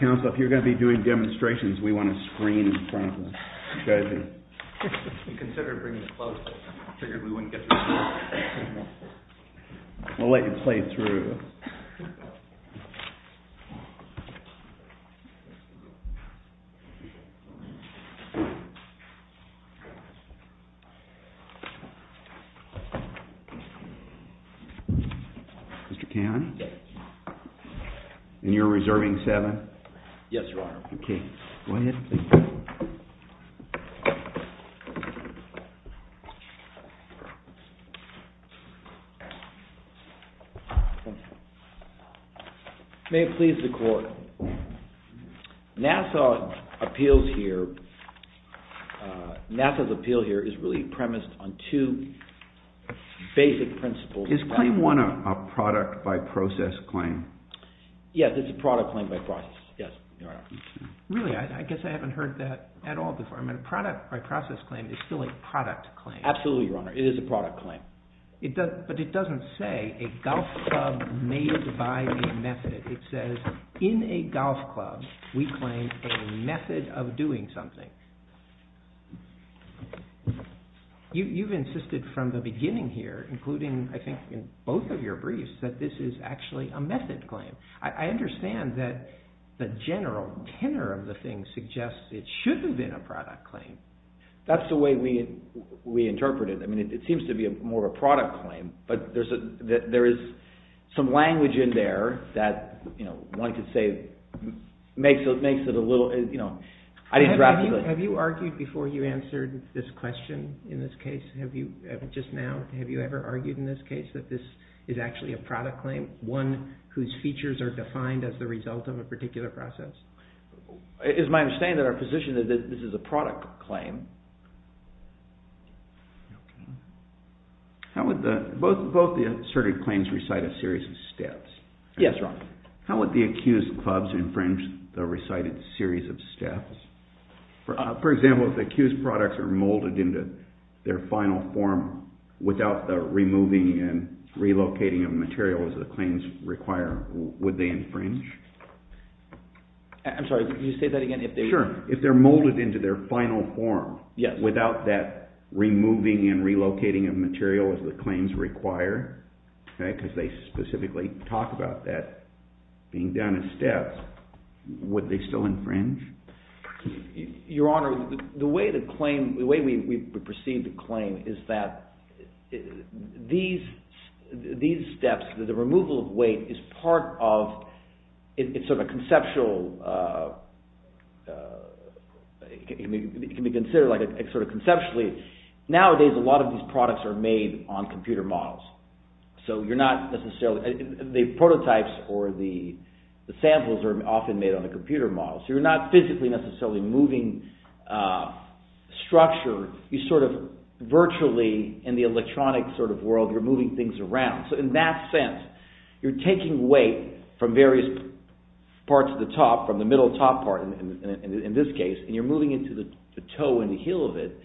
Council, if you're going to be doing demonstrations, we want a screen in front of us. You've got to be. We'll let you play through, Mr. Cannon, and you're reserving seven. Yes, your honor. Okay, go ahead, please. May it please the court, Nassau's appeal here is really premised on two basic principles. Is claim one a product by process claim? Yes, it's a product claim by process. Yes, your honor. Really, I guess I haven't heard that at all before. I mean, a product by process claim is still a product claim. Absolutely, your honor. It is a product claim. But it doesn't say a golf club made by a method. It says in a golf club, we claim a method of doing something. You've insisted from the beginning here, including I think in both of your briefs, that this is actually a method claim. I understand that the general tenor of the thing suggests it should have been a product claim. That's the way we interpret it. I mean, it seems to be more of a product claim, but there is some language in there that, you know, I'd like to say makes it a little, you know. Have you argued before you answered this question in this case? Just now, have you ever argued in this case that this is actually a product claim, one whose features are defined as the result of a particular process? It is my understanding that our position is that this is a product claim. Both the asserted claims recite a series of steps. Yes, your honor. How would the accused clubs infringe the recited series of steps? For example, if the accused products are molded into their final form without the removing and relocating of material as the claims require, would they infringe? I'm sorry, could you say that again? Sure. If they're molded into their final form without that removing and relocating of material as the claims require, because they specifically talk about that being done in steps, would they still infringe? Your honor, the way we perceive the claim is that these steps, the removal of weight is part of, it's sort of a conceptual, it can be considered sort of conceptually. Nowadays, a lot of these products are made on computer models. So you're not necessarily, the prototypes or the samples are often made on a computer model. So you're not physically necessarily moving structure. You sort of virtually, in the electronic sort of world, you're moving things around. So in that sense, you're taking weight from various parts of the top, from the middle top part in this case, and you're moving into the toe and the heel of it,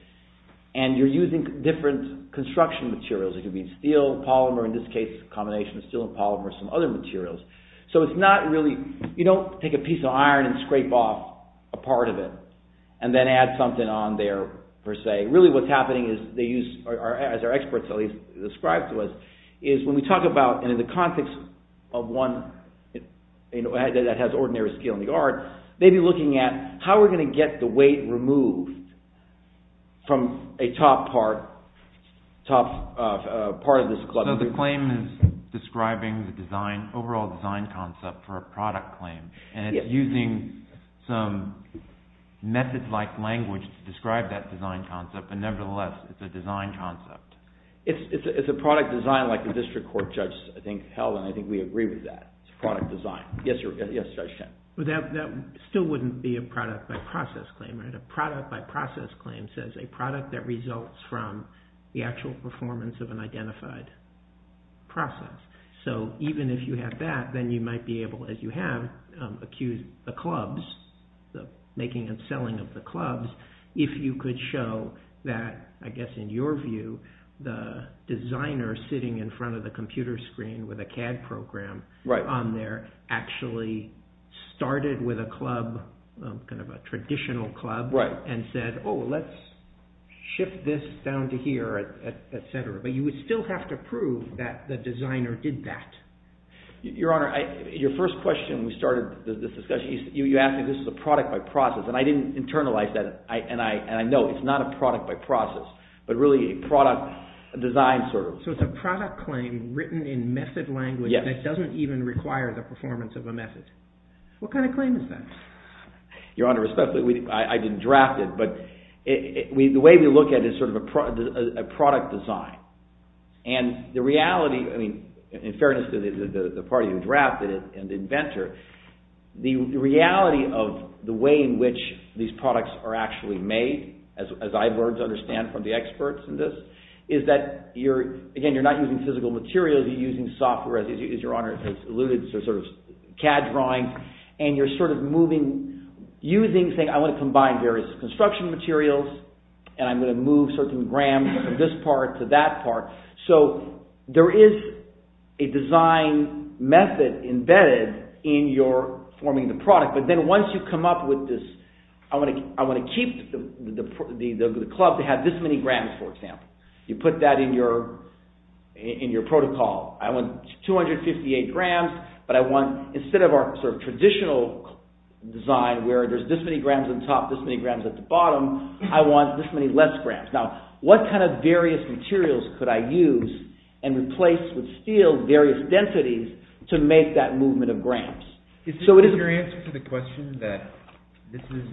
and you're using different construction materials. It could be steel, polymer, in this case, a combination of steel and polymer, some other materials. So it's not really, you don't take a piece of iron and scrape off a part of it and then add something on there per se. Really what's happening is they use, as our experts at least describe to us, is when we talk about, and in the context of one that has ordinary skill in the art, maybe looking at how we're going to get the weight removed from a top part of this club. So the claim is describing the overall design concept for a product claim, and it's using some method-like language to describe that design concept, but nevertheless, it's a design concept. It's a product design like the district court judge, I think, held, and I think we agree with that. It's a product design. That still wouldn't be a product-by-process claim, right? A product-by-process claim says a product that results from the actual performance of an identified process. So even if you have that, then you might be able, as you have, to accuse the clubs, the making and selling of the clubs, if you could show that, I guess in your view, the designer sitting in front of the computer screen with a CAD program on there actually started with a club, kind of a traditional club, and said, oh, let's shift this down to here, et cetera. But you would still have to prove that the designer did that. Your Honor, your first question when we started this discussion, you asked me if this is a product-by-process, and I didn't internalize that, and I know it's not a product-by-process, but really a product design sort of. So it's a product claim written in method language that doesn't even require the performance of a method. What kind of claim is that? Your Honor, I didn't draft it, but the way we look at it is sort of a product design. And the reality, I mean, in fairness to the party who drafted it and the inventor, the reality of the way in which these products are actually made, as I've learned to understand from the experts in this, is that, again, you're not using physical materials, you're using software, as Your Honor has alluded to, sort of CAD drawing, and you're sort of moving, using, saying I want to combine various construction materials, and I'm going to move certain grams from this part to that part. So there is a design method embedded in your forming the product, but then once you come up with this, I want to keep the club to have this many grams, for example. You put that in your protocol. I want 258 grams, but I want, instead of our sort of traditional design, where there's this many grams on top, this many grams at the bottom, I want this many less grams. Now, what kind of various materials could I use and replace with steel various densities to make that movement of grams? Is this your answer to the question that this is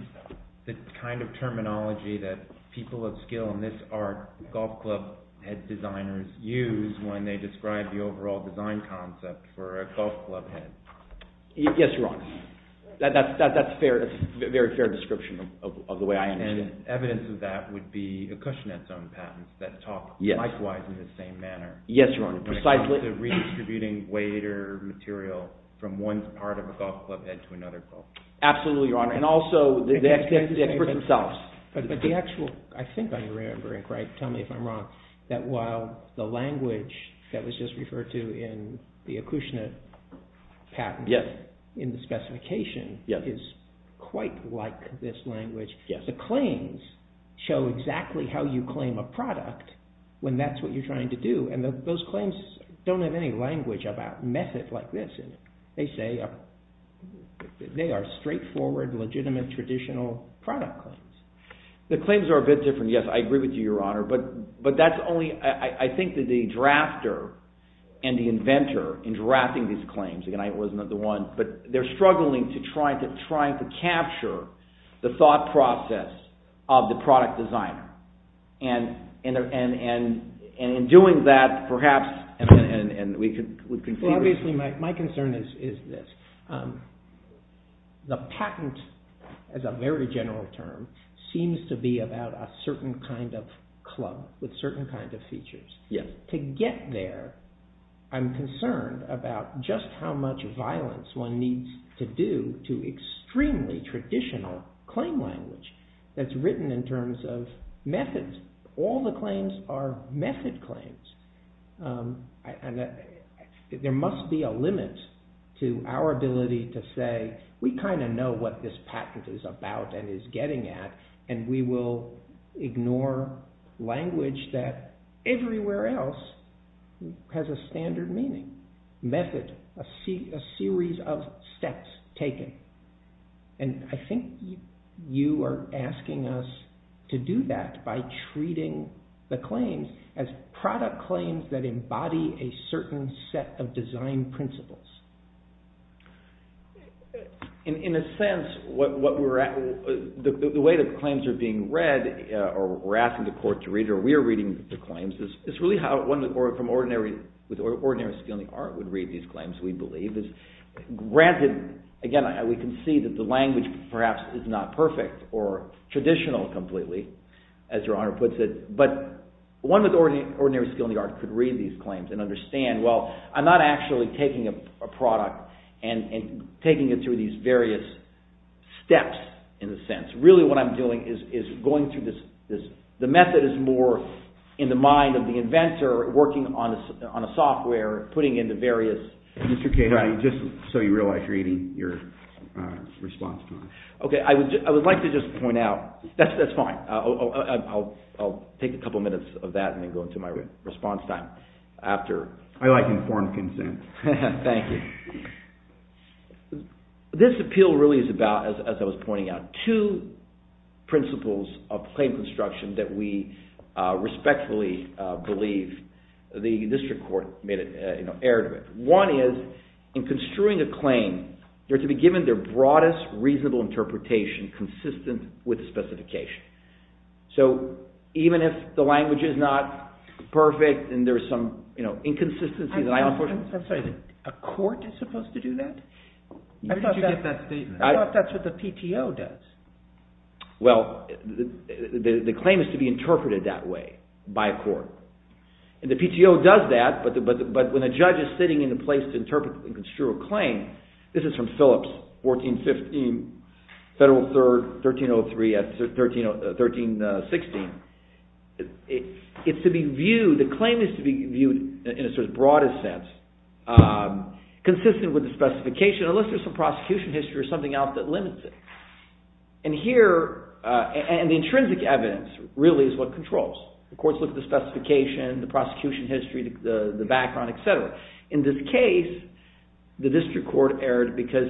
the kind of terminology that people of skill in this art, golf club head designers, use when they describe the overall design concept for a golf club head? Yes, Your Honor. That's a very fair description of the way I understand it. Evidence of that would be Accushnet's own patents that talk likewise in the same manner. Yes, Your Honor. Precisely. Redistributing weight or material from one part of a golf club head to another part. Absolutely, Your Honor, and also the experts themselves. But the actual, I think I'm remembering, Craig, tell me if I'm wrong, that while the language that was just referred to in the Accushnet patent, in the specification, is quite like this language, the claims show exactly how you claim a product when that's what you're trying to do. And those claims don't have any language about method like this. They say they are straightforward, legitimate, traditional product claims. The claims are a bit different. Yes, I agree with you, Your Honor. But that's only, I think that the drafter and the inventor in drafting these claims, but they're struggling to try to capture the thought process of the product designer. And in doing that, perhaps, and we could... Well, obviously, my concern is this. The patent, as a very general term, seems to be about a certain kind of club, with certain kinds of features. To get there, I'm concerned about just how much violence one needs to do to extremely traditional claim language that's written in terms of methods. All the claims are method claims. There must be a limit to our ability to say, we kind of know what this patent is about and is getting at, and we will ignore language that everywhere else has a standard meaning. Method, a series of steps taken. And I think you are asking us to do that by treating the claims as product claims that embody a certain set of design principles. In a sense, the way the claims are being read, or we're asking the court to read, or we're reading the claims, is really how one with ordinary skill in the art would read these claims, we believe. Granted, again, we can see that the language, perhaps, is not perfect or traditional completely, as Your Honor puts it. But one with ordinary skill in the art could read these claims and understand, well, I'm not actually taking a product and taking it through these various steps, in a sense. Really what I'm doing is going through this. The method is more in the mind of the inventor working on a software, putting in the various... Mr. Cato, just so you realize you're eating your response time. Okay, I would like to just point out... That's fine. I'll take a couple minutes of that and then go into my response time. I like informed consent. Thank you. This appeal really is about, as I was pointing out, two principles of claim construction that we respectfully believe the district court made an error to it. One is, in construing a claim, they're to be given their broadest reasonable interpretation consistent with the specification. So even if the language is not perfect and there's some inconsistency... I'm sorry, a court is supposed to do that? I thought that's what the PTO does. Well, the claim is to be interpreted that way by a court. And the PTO does that, but when a judge is sitting in a place to interpret and construe a claim... This is from Phillips, 1415, Federal Third, 1303, 1316. It's to be viewed... The claim is to be viewed in a sort of broadest sense consistent with the specification, unless there's some prosecution history or something else that limits it. And here... And the intrinsic evidence really is what controls. The courts look at the specification, the prosecution history, the background, et cetera. In this case, the district court erred because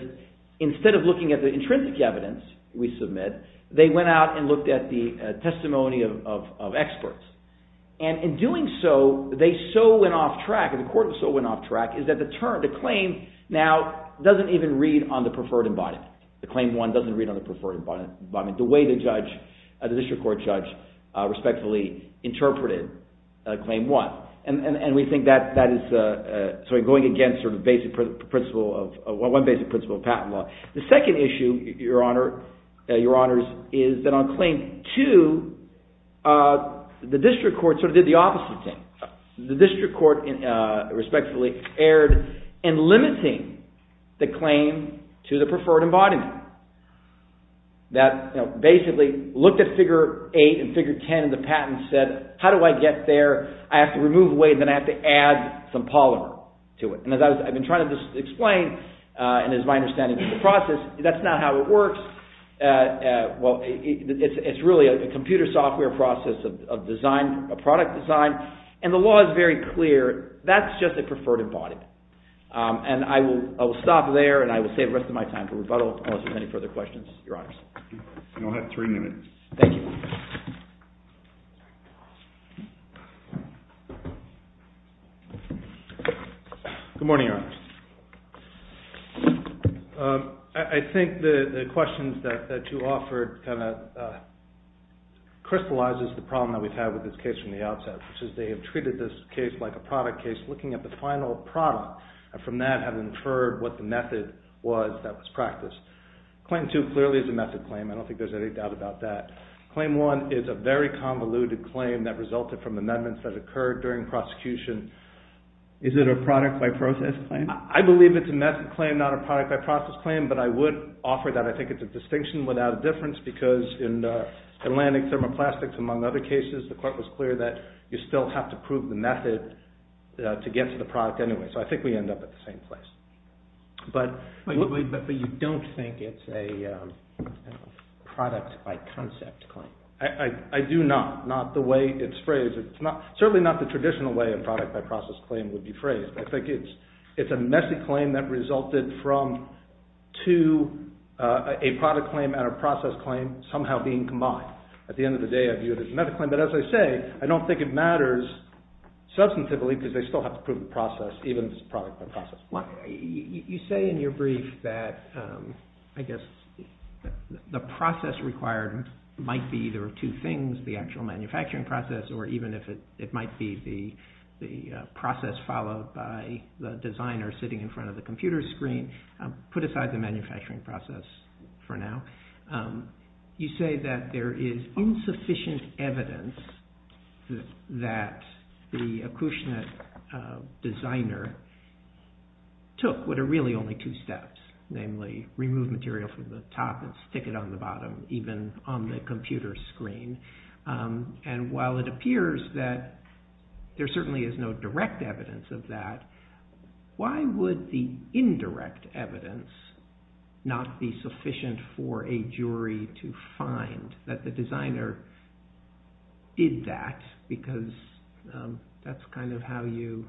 instead of looking at the intrinsic evidence we submit, they went out and looked at the testimony of experts. And in doing so, they so went off track, and the court so went off track, is that the claim now doesn't even read on the preferred embodiment. The Claim 1 doesn't read on the preferred embodiment the way the district court judge respectfully interpreted Claim 1. And we think that is going against one basic principle of patent law. The second issue, Your Honor, Your Honors, is that on Claim 2, the district court sort of did the opposite thing. The district court respectfully erred in limiting the claim to the preferred embodiment. That basically looked at Figure 8 and Figure 10, and the patent said, how do I get there? I have to remove weight, and then I have to add some polymer to it. And as I've been trying to explain, and as my understanding of the process, that's not how it works. Well, it's really a computer software process of design, a product design, and the law is very clear. That's just a preferred embodiment. And I will stop there, and I will save the rest of my time for rebuttal unless there's any further questions. Your Honors. You only have three minutes. Thank you. Good morning, Your Honors. I think the questions that you offered kind of crystallizes the problem that we've had with this case from the outset, which is they have treated this case like a product case, looking at the final product, and from that have inferred what the method was that was practiced. Claim 2 clearly is a method claim. I don't think there's any doubt about that. Claim 1 is a very convoluted claim that resulted from amendments that occurred during prosecution. Is it a product-by-process claim? I believe it's a method claim, not a product-by-process claim, but I would offer that I think it's a distinction without a difference because in Atlantic Thermoplastics, among other cases, the court was clear that you still have to prove the method to get to the product anyway. So I think we end up at the same place. But you don't think it's a product-by-concept claim? I do not, not the way it's phrased. It's certainly not the traditional way a product-by-process claim would be phrased. I think it's a messy claim that resulted from two, a product claim and a process claim somehow being combined. At the end of the day, I view it as a method claim. But as I say, I don't think it matters substantively because they still have to prove the process, even if it's a product-by-process. You say in your brief that the process required might be either of two things, the actual manufacturing process or even if it might be the process followed by the designer sitting in front of the computer screen. Put aside the manufacturing process for now. You say that there is insufficient evidence that the accoutrement designer took what are really only two steps, namely remove material from the top and stick it on the bottom, even on the computer screen. And while it appears that there certainly is no direct evidence of that, why would the indirect evidence not be sufficient for a jury to find that the designer did that? Because that's kind of how you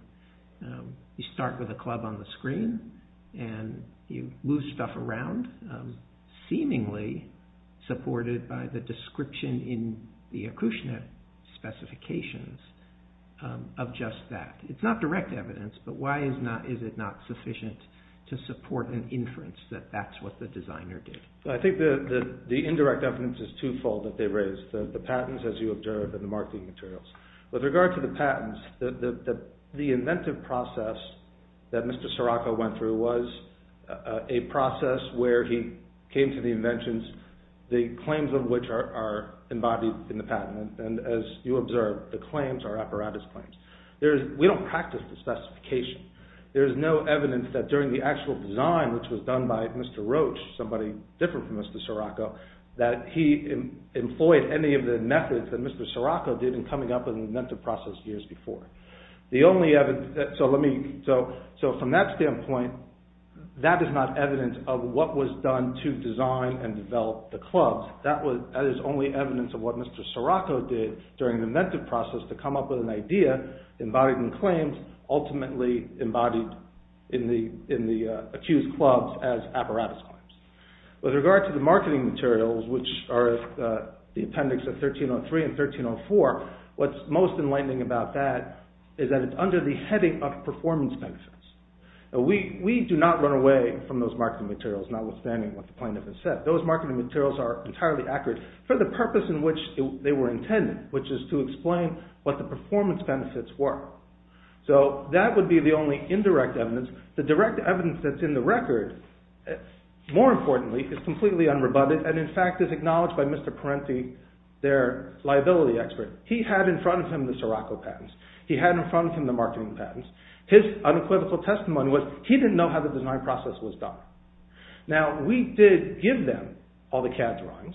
start with a club on the screen and you move stuff around, seemingly supported by the description in the accoutrement specifications of just that. It's not direct evidence, but why is it not sufficient to support an inference that that's what the designer did? I think that the indirect evidence is two-fold that they raised. The patents, as you observed, and the marketing materials. With regard to the patents, the inventive process that Mr. Scirocco went through was a process where he came to the inventions, the claims of which are embodied in the patent. And as you observed, the claims are apparatus claims. We don't practice the specification. There is no evidence that during the actual design, which was done by Mr. Roche, somebody different from Mr. Scirocco, that he employed any of the methods that Mr. Scirocco did in coming up with an inventive process years before. So from that standpoint, that is not evidence of what was done to design and develop the clubs. That is only evidence of what Mr. Scirocco did during the inventive process to come up with an idea ultimately embodied in the accused clubs as apparatus claims. With regard to the marketing materials, which are the appendix of 1303 and 1304, what's most enlightening about that is that it's under the heading of performance benefits. We do not run away from those marketing materials, notwithstanding what the plaintiff has said. Those marketing materials are entirely accurate for the purpose in which they were intended, which is to explain what the performance benefits were. So that would be the only indirect evidence. The direct evidence that's in the record, more importantly, is completely unrebutted and in fact is acknowledged by Mr. Parenti, their liability expert. He had in front of him the Scirocco patents. He had in front of him the marketing patents. His unequivocal testimony was he didn't know how the design process was done. Now, we did give them all the CAD drawings.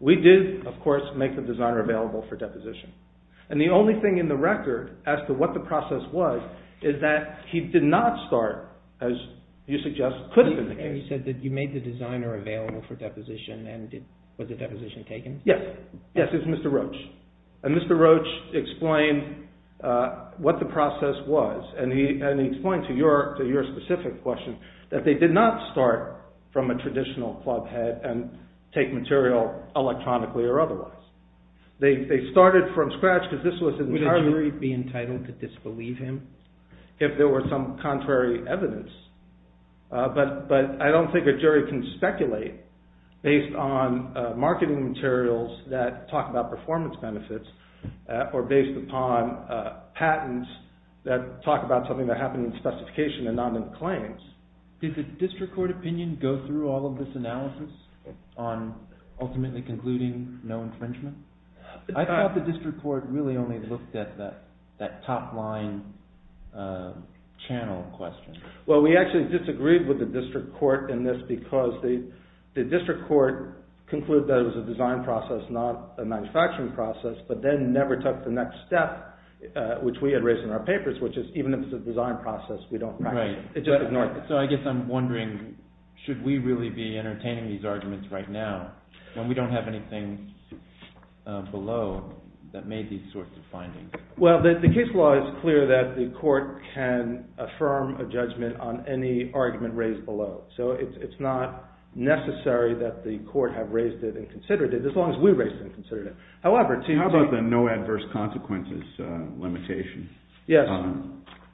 We did, of course, make the designer available for deposition. And the only thing in the record as to what the process was is that he did not start, as you suggest, could have been the case. You said that you made the designer available for deposition. Was the deposition taken? Yes, it was Mr. Roach. Mr. Roach explained what the process was and he explained to your specific question that they did not start from a traditional club head and take material electronically or otherwise. They started from scratch because this was entirely... Would a jury be entitled to disbelieve him? If there were some contrary evidence. But I don't think a jury can speculate based on marketing materials that talk about performance benefits or based upon patents that talk about something that happened in specification and not in claims. Did the district court opinion go through all of this analysis? On ultimately concluding no infringement? I thought the district court really only looked at that top line channel question. Well, we actually disagreed with the district court in this because the district court concluded that it was a design process not a manufacturing process but then never took the next step which we had raised in our papers which is even if it's a design process, we don't practice it. So I guess I'm wondering should we really be entertaining these arguments right now when we don't have anything below that made these sorts of findings? Well, the case law is clear that the court can affirm a judgment on any argument raised below. So it's not necessary that the court have raised it and considered it as long as we raised it and considered it. How about the no adverse consequences limitation? Yes.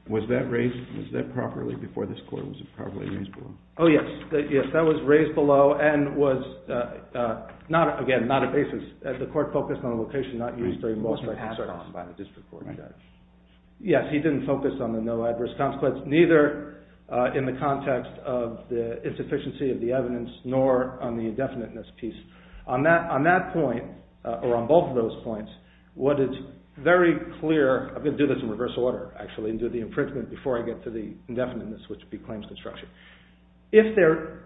Was that raised? Was that properly before this court? Was it properly raised below? Oh, yes. Yes, that was raised below and was not, again, not a basis. The court focused on a location not used very much by the district court judge. Yes, he didn't focus on the no adverse consequence neither in the context of the insufficiency of the evidence nor on the indefiniteness piece. On that point or on both of those points, what is very clear I'm going to do this in reverse order actually and do the infringement before I get to the indefiniteness which would be claims construction. If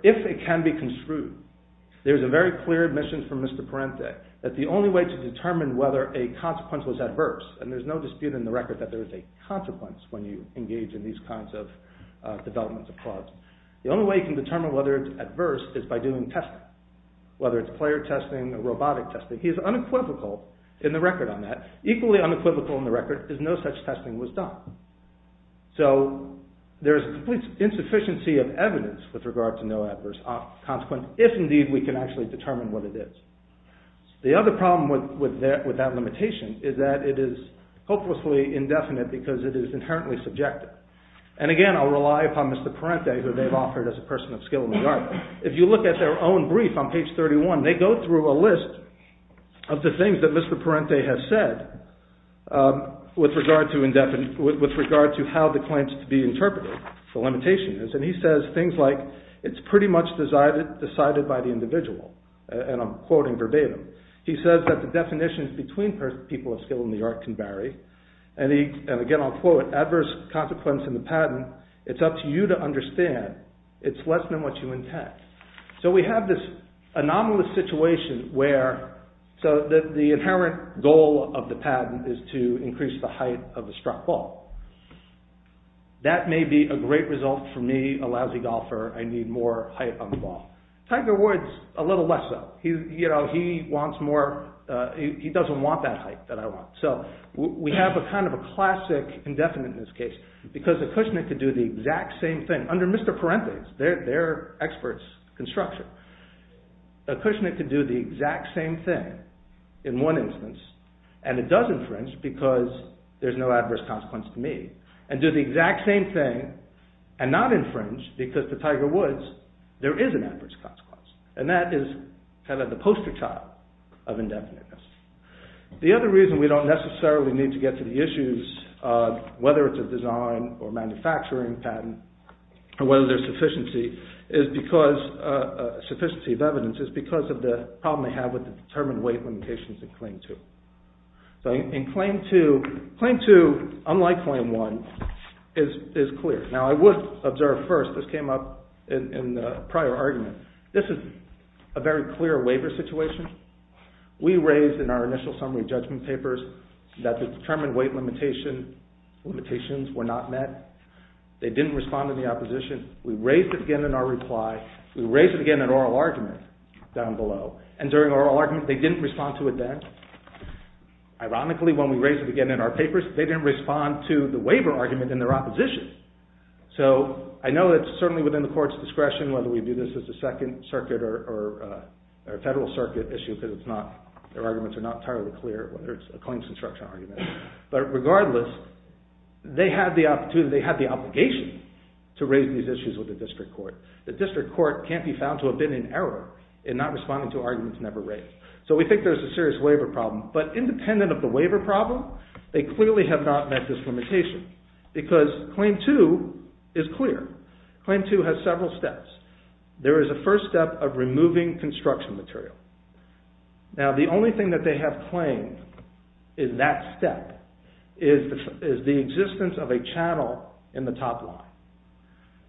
it can be construed, there's a very clear admission from Mr. Parente that the only way to determine whether a consequence was adverse and there's no dispute in the record that there is a consequence when you engage in these kinds of developments of cause. The only way you can determine whether it's adverse is by doing testing, whether it's player testing or robotic testing. He is unequivocal in the record on that, equally unequivocal in the record is no such testing was done. So there's a complete insufficiency of evidence with regard to no adverse consequence if indeed we can actually determine what it is. The other problem with that limitation is that it is hopelessly indefinite because it is inherently subjective. And again, I'll rely upon Mr. Parente who they've offered as a person of skill in the yard. If you look at their own brief on page 31, they go through a list of the things that Mr. Parente has said with regard to how the claims to be interpreted, the limitation is. And he says things like, it's pretty much decided by the individual. And I'm quoting verbatim. He says that the definitions between people of skill in the yard can vary. And again I'll quote, adverse consequence in the patent, it's up to you to understand. It's less than what you intend. So we have this anomalous situation where the inherent goal of the patent is to increase the height of the struck ball. That may be a great result for me, a lousy golfer. I need more height on the ball. Tiger Woods, a little less so. He wants more. He doesn't want that height that I want. So we have a kind of a classic indefinite in this case because a Kushnick could do the exact same thing under Mr. Parente. They're experts in construction. A Kushnick could do the exact same thing in one instance and it does infringe because there's no adverse consequence to me and do the exact same thing and not infringe because to Tiger Woods there is an adverse consequence. And that is kind of the poster child of indefiniteness. The other reason we don't necessarily need to get to the issues whether it's a design or manufacturing patent or whether there's sufficiency of evidence is because of the problem they have with the determined weight limitations in Claim 2. So in Claim 2, unlike Claim 1, is clear. Now I would observe first, this came up in the prior argument, this is a very clear waiver situation. We raised in our initial summary judgment papers that the determined weight limitations were not met. They didn't respond to the opposition. We raised it again in our reply. We raised it again in oral argument down below. And during oral argument, they didn't respond to it then. Ironically, when we raised it again in our papers, they didn't respond to the waiver argument in their opposition. So I know it's certainly within the court's discretion whether we do this as a second circuit or a federal circuit issue because their arguments are not entirely clear whether it's a claims construction argument. But regardless, they had the opportunity, they had the obligation to raise these issues with the district court. The district court can't be found to have been in error in not responding to arguments never raised. So we think there's a serious waiver problem. But independent of the waiver problem, they clearly have not met this limitation because Claim 2 is clear. Claim 2 has several steps. There is a first step of removing construction material. Now the only thing that they have claimed in that step is the existence of a channel in the top line.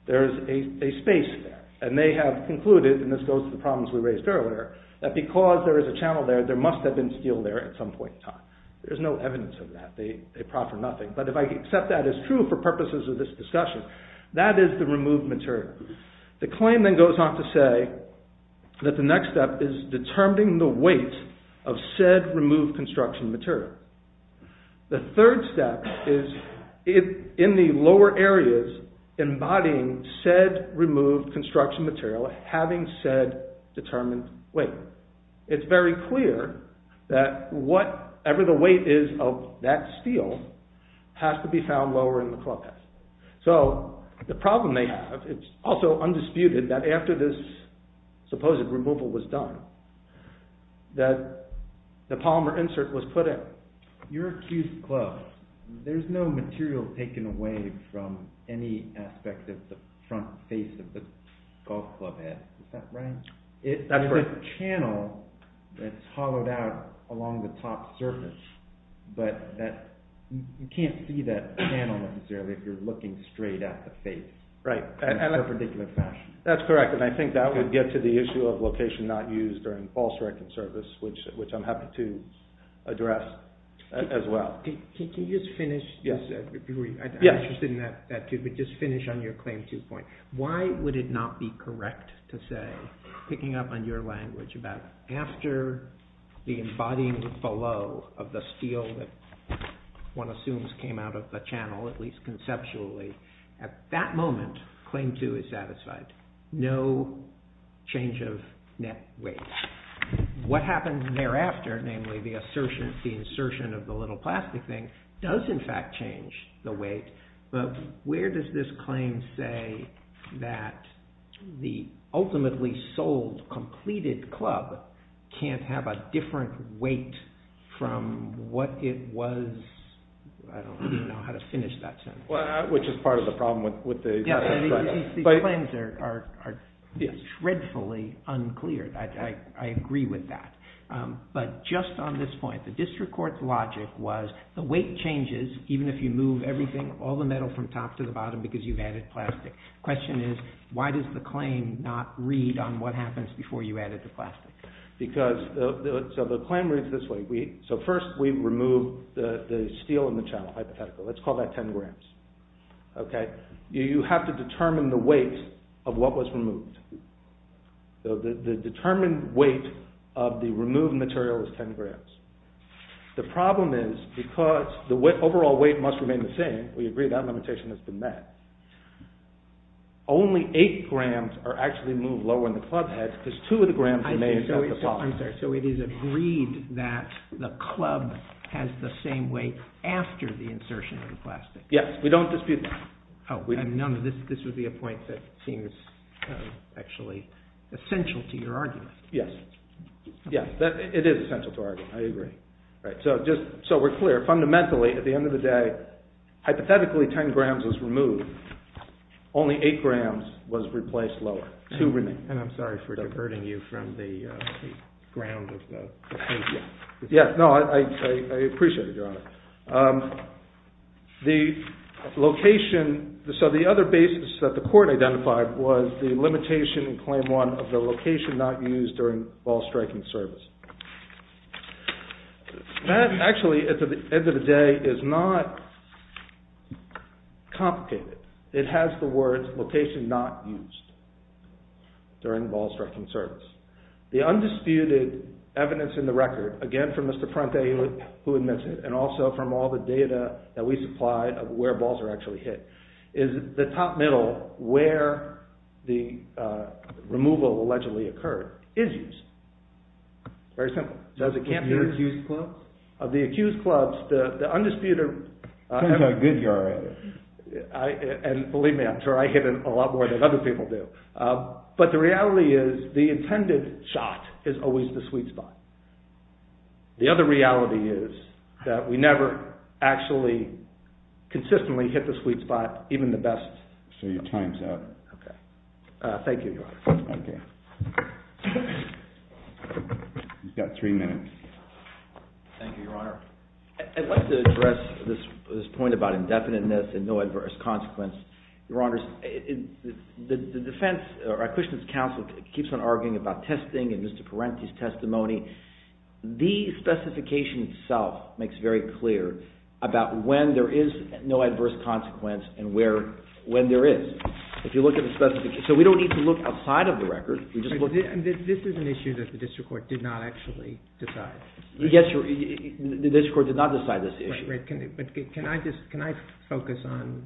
There is a space there. And they have concluded, and this goes to the problems we raised earlier, that because there is a channel there, there must have been steel there at some point in time. There is no evidence of that. They proffer nothing. But if I accept that as true for purposes of this discussion, that is the removed material. The claim then goes on to say that the next step is determining the weight of said removed construction material. The third step is in the lower areas embodying said removed construction material having said determined weight. It's very clear that whatever the weight is of that steel has to be found while we're in the clubhouse. So the problem they have, it's also undisputed that after this supposed removal was done, that the polymer insert was put in. Your accused club, there's no material taken away from any aspect of the front face of the golf club head. Is that right? There's a channel that's hollowed out along the top surface, but you can't see that channel necessarily if you're looking straight at the face in a particular fashion. That's correct, and I think that would get to the issue of location not used during false record service, which I'm happy to address as well. Can you just finish? I'm interested in that too, but just finish on your claim two point. Why would it not be correct to say, picking up on your language, about after the embodying below of the steel that one assumes came out of the channel, at least conceptually, at that moment claim two is satisfied. No change of net weight. What happens thereafter, namely the insertion of the little plastic thing, does in fact change the weight, but where does this claim say that the ultimately sold, completed club can't have a different weight from what it was... I don't know how to finish that sentence. Which is part of the problem with the... These claims are dreadfully unclear. I agree with that. But just on this point, the district court's logic was, the weight changes even if you move everything, all the metal from top to the bottom, because you've added plastic. The question is, why does the claim not read on what happens before you added the plastic? The claim reads this way. First, we remove the steel in the channel, hypothetically. Let's call that 10 grams. You have to determine the weight of what was removed. The determined weight of the removed material is 10 grams. The problem is, because the overall weight must remain the same, we agree that limitation has been met, only 8 grams are actually moved lower in the club head, because 2 of the grams are made at the top. I'm sorry, so it is agreed that the club has the same weight after the insertion of the plastic. Yes, we don't dispute that. This would be a point that seems actually essential to your argument. Yes, it is essential to our argument. I agree. So we're clear. Fundamentally, at the end of the day, hypothetically, 10 grams was removed. Only 8 grams was replaced lower. And I'm sorry for diverting you from the ground of the case. No, I appreciate it, Your Honor. The location, so the other basis that the court identified was the limitation in Claim 1 of the location not used during ball striking service. That actually, at the end of the day, is not complicated. It has the words, location not used during ball striking service. The undisputed evidence in the record, again from Mr. Parente, who admits it, and also from all the data that we supply of where balls are actually hit, is the top middle, where the removal allegedly occurred, is used. Very simple. Of the accused clubs, the undisputed... Turns out good, Your Honor. And believe me, I'm sure I hit it a lot more than other people do. But the reality is, the intended shot is always the sweet spot. The other reality is that we never actually consistently hit the sweet spot, even the best... So your time's up. Okay. Thank you, Your Honor. Okay. You've got three minutes. Thank you, Your Honor. I'd like to address this point about indefiniteness and no adverse consequence. Your Honors, the defense, or Acquistion's counsel, keeps on arguing about testing in Mr. Parenti's testimony. The specification itself makes very clear about when there is no adverse consequence and when there is. So we don't need to look outside of the record. This is an issue that the district court did not actually decide. Yes, Your Honor. The district court did not decide this issue. Can I focus on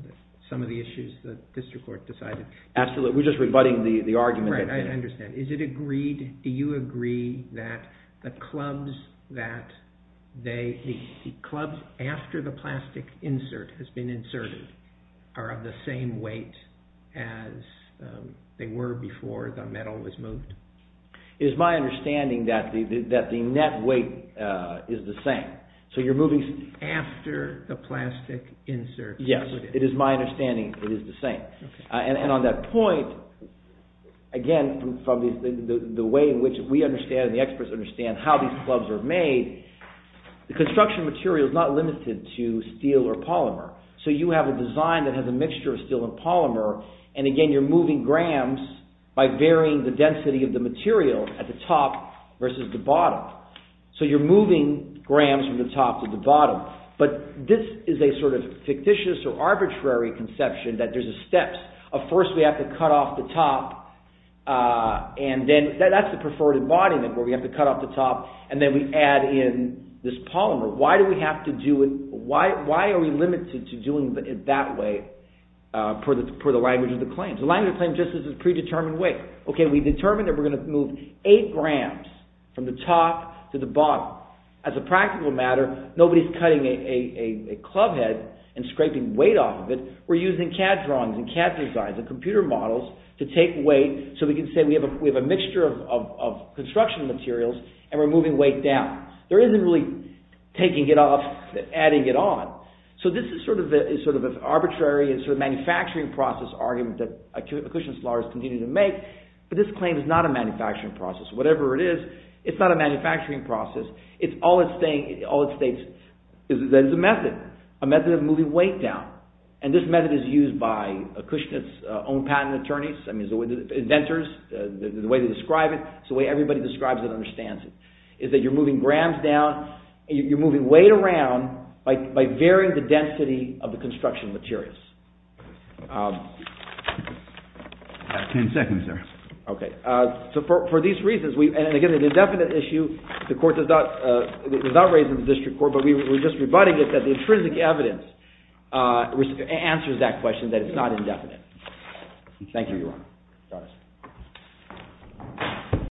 some of the issues the district court decided? Absolutely. We're just rebutting the argument. I understand. Is it agreed... Do you agree that the clubs that they... the clubs after the plastic insert has been inserted are of the same weight as they were before the metal was moved? It is my understanding that the net weight is the same. So you're moving... After the plastic insert... Yes. It is my understanding it is the same. And on that point, again from the way in which we understand and the experts understand how these clubs are made, the construction material is not limited to steel or polymer. So you have a design that has a mixture of steel and polymer and again you're moving grams by varying the density of the material at the top versus the bottom. So you're moving grams from the top to the bottom. But this is a sort of fictitious or arbitrary conception that there's a step. First we have to cut off the top and then... That's the preferred embodiment where we have to cut off the top and then we add in this polymer. Why do we have to do it... Why are we limited to doing it that way per the language of the claims? The language of the claims just is a predetermined weight. Okay, we determined that we're going to move 8 grams from the top to the bottom. As a practical matter, nobody's cutting a club head and scraping weight off of it. We're using CAD drawings and CAD designs and computer models to take weight so we can say we have a mixture of construction materials and we're moving weight down. There isn't really taking it off and adding it on. So this is sort of an arbitrary and sort of manufacturing process argument that accretionist lawyers continue to make. But this claim is not a manufacturing process. Whatever it is, it's not a manufacturing process. All it states is that it's a method. A method of moving weight down. And this method is used by Kushnitz's own patent attorneys, inventors, the way they describe it. It's the way everybody describes it and understands it. It's that you're moving grams down and you're moving weight around by varying the density of the construction materials. Ten seconds, sir. Okay. So for these reasons, and again, an indefinite issue, the court does not raise in the district court, but we're just rebutting it that the intrinsic evidence answers that question that it's not indefinite.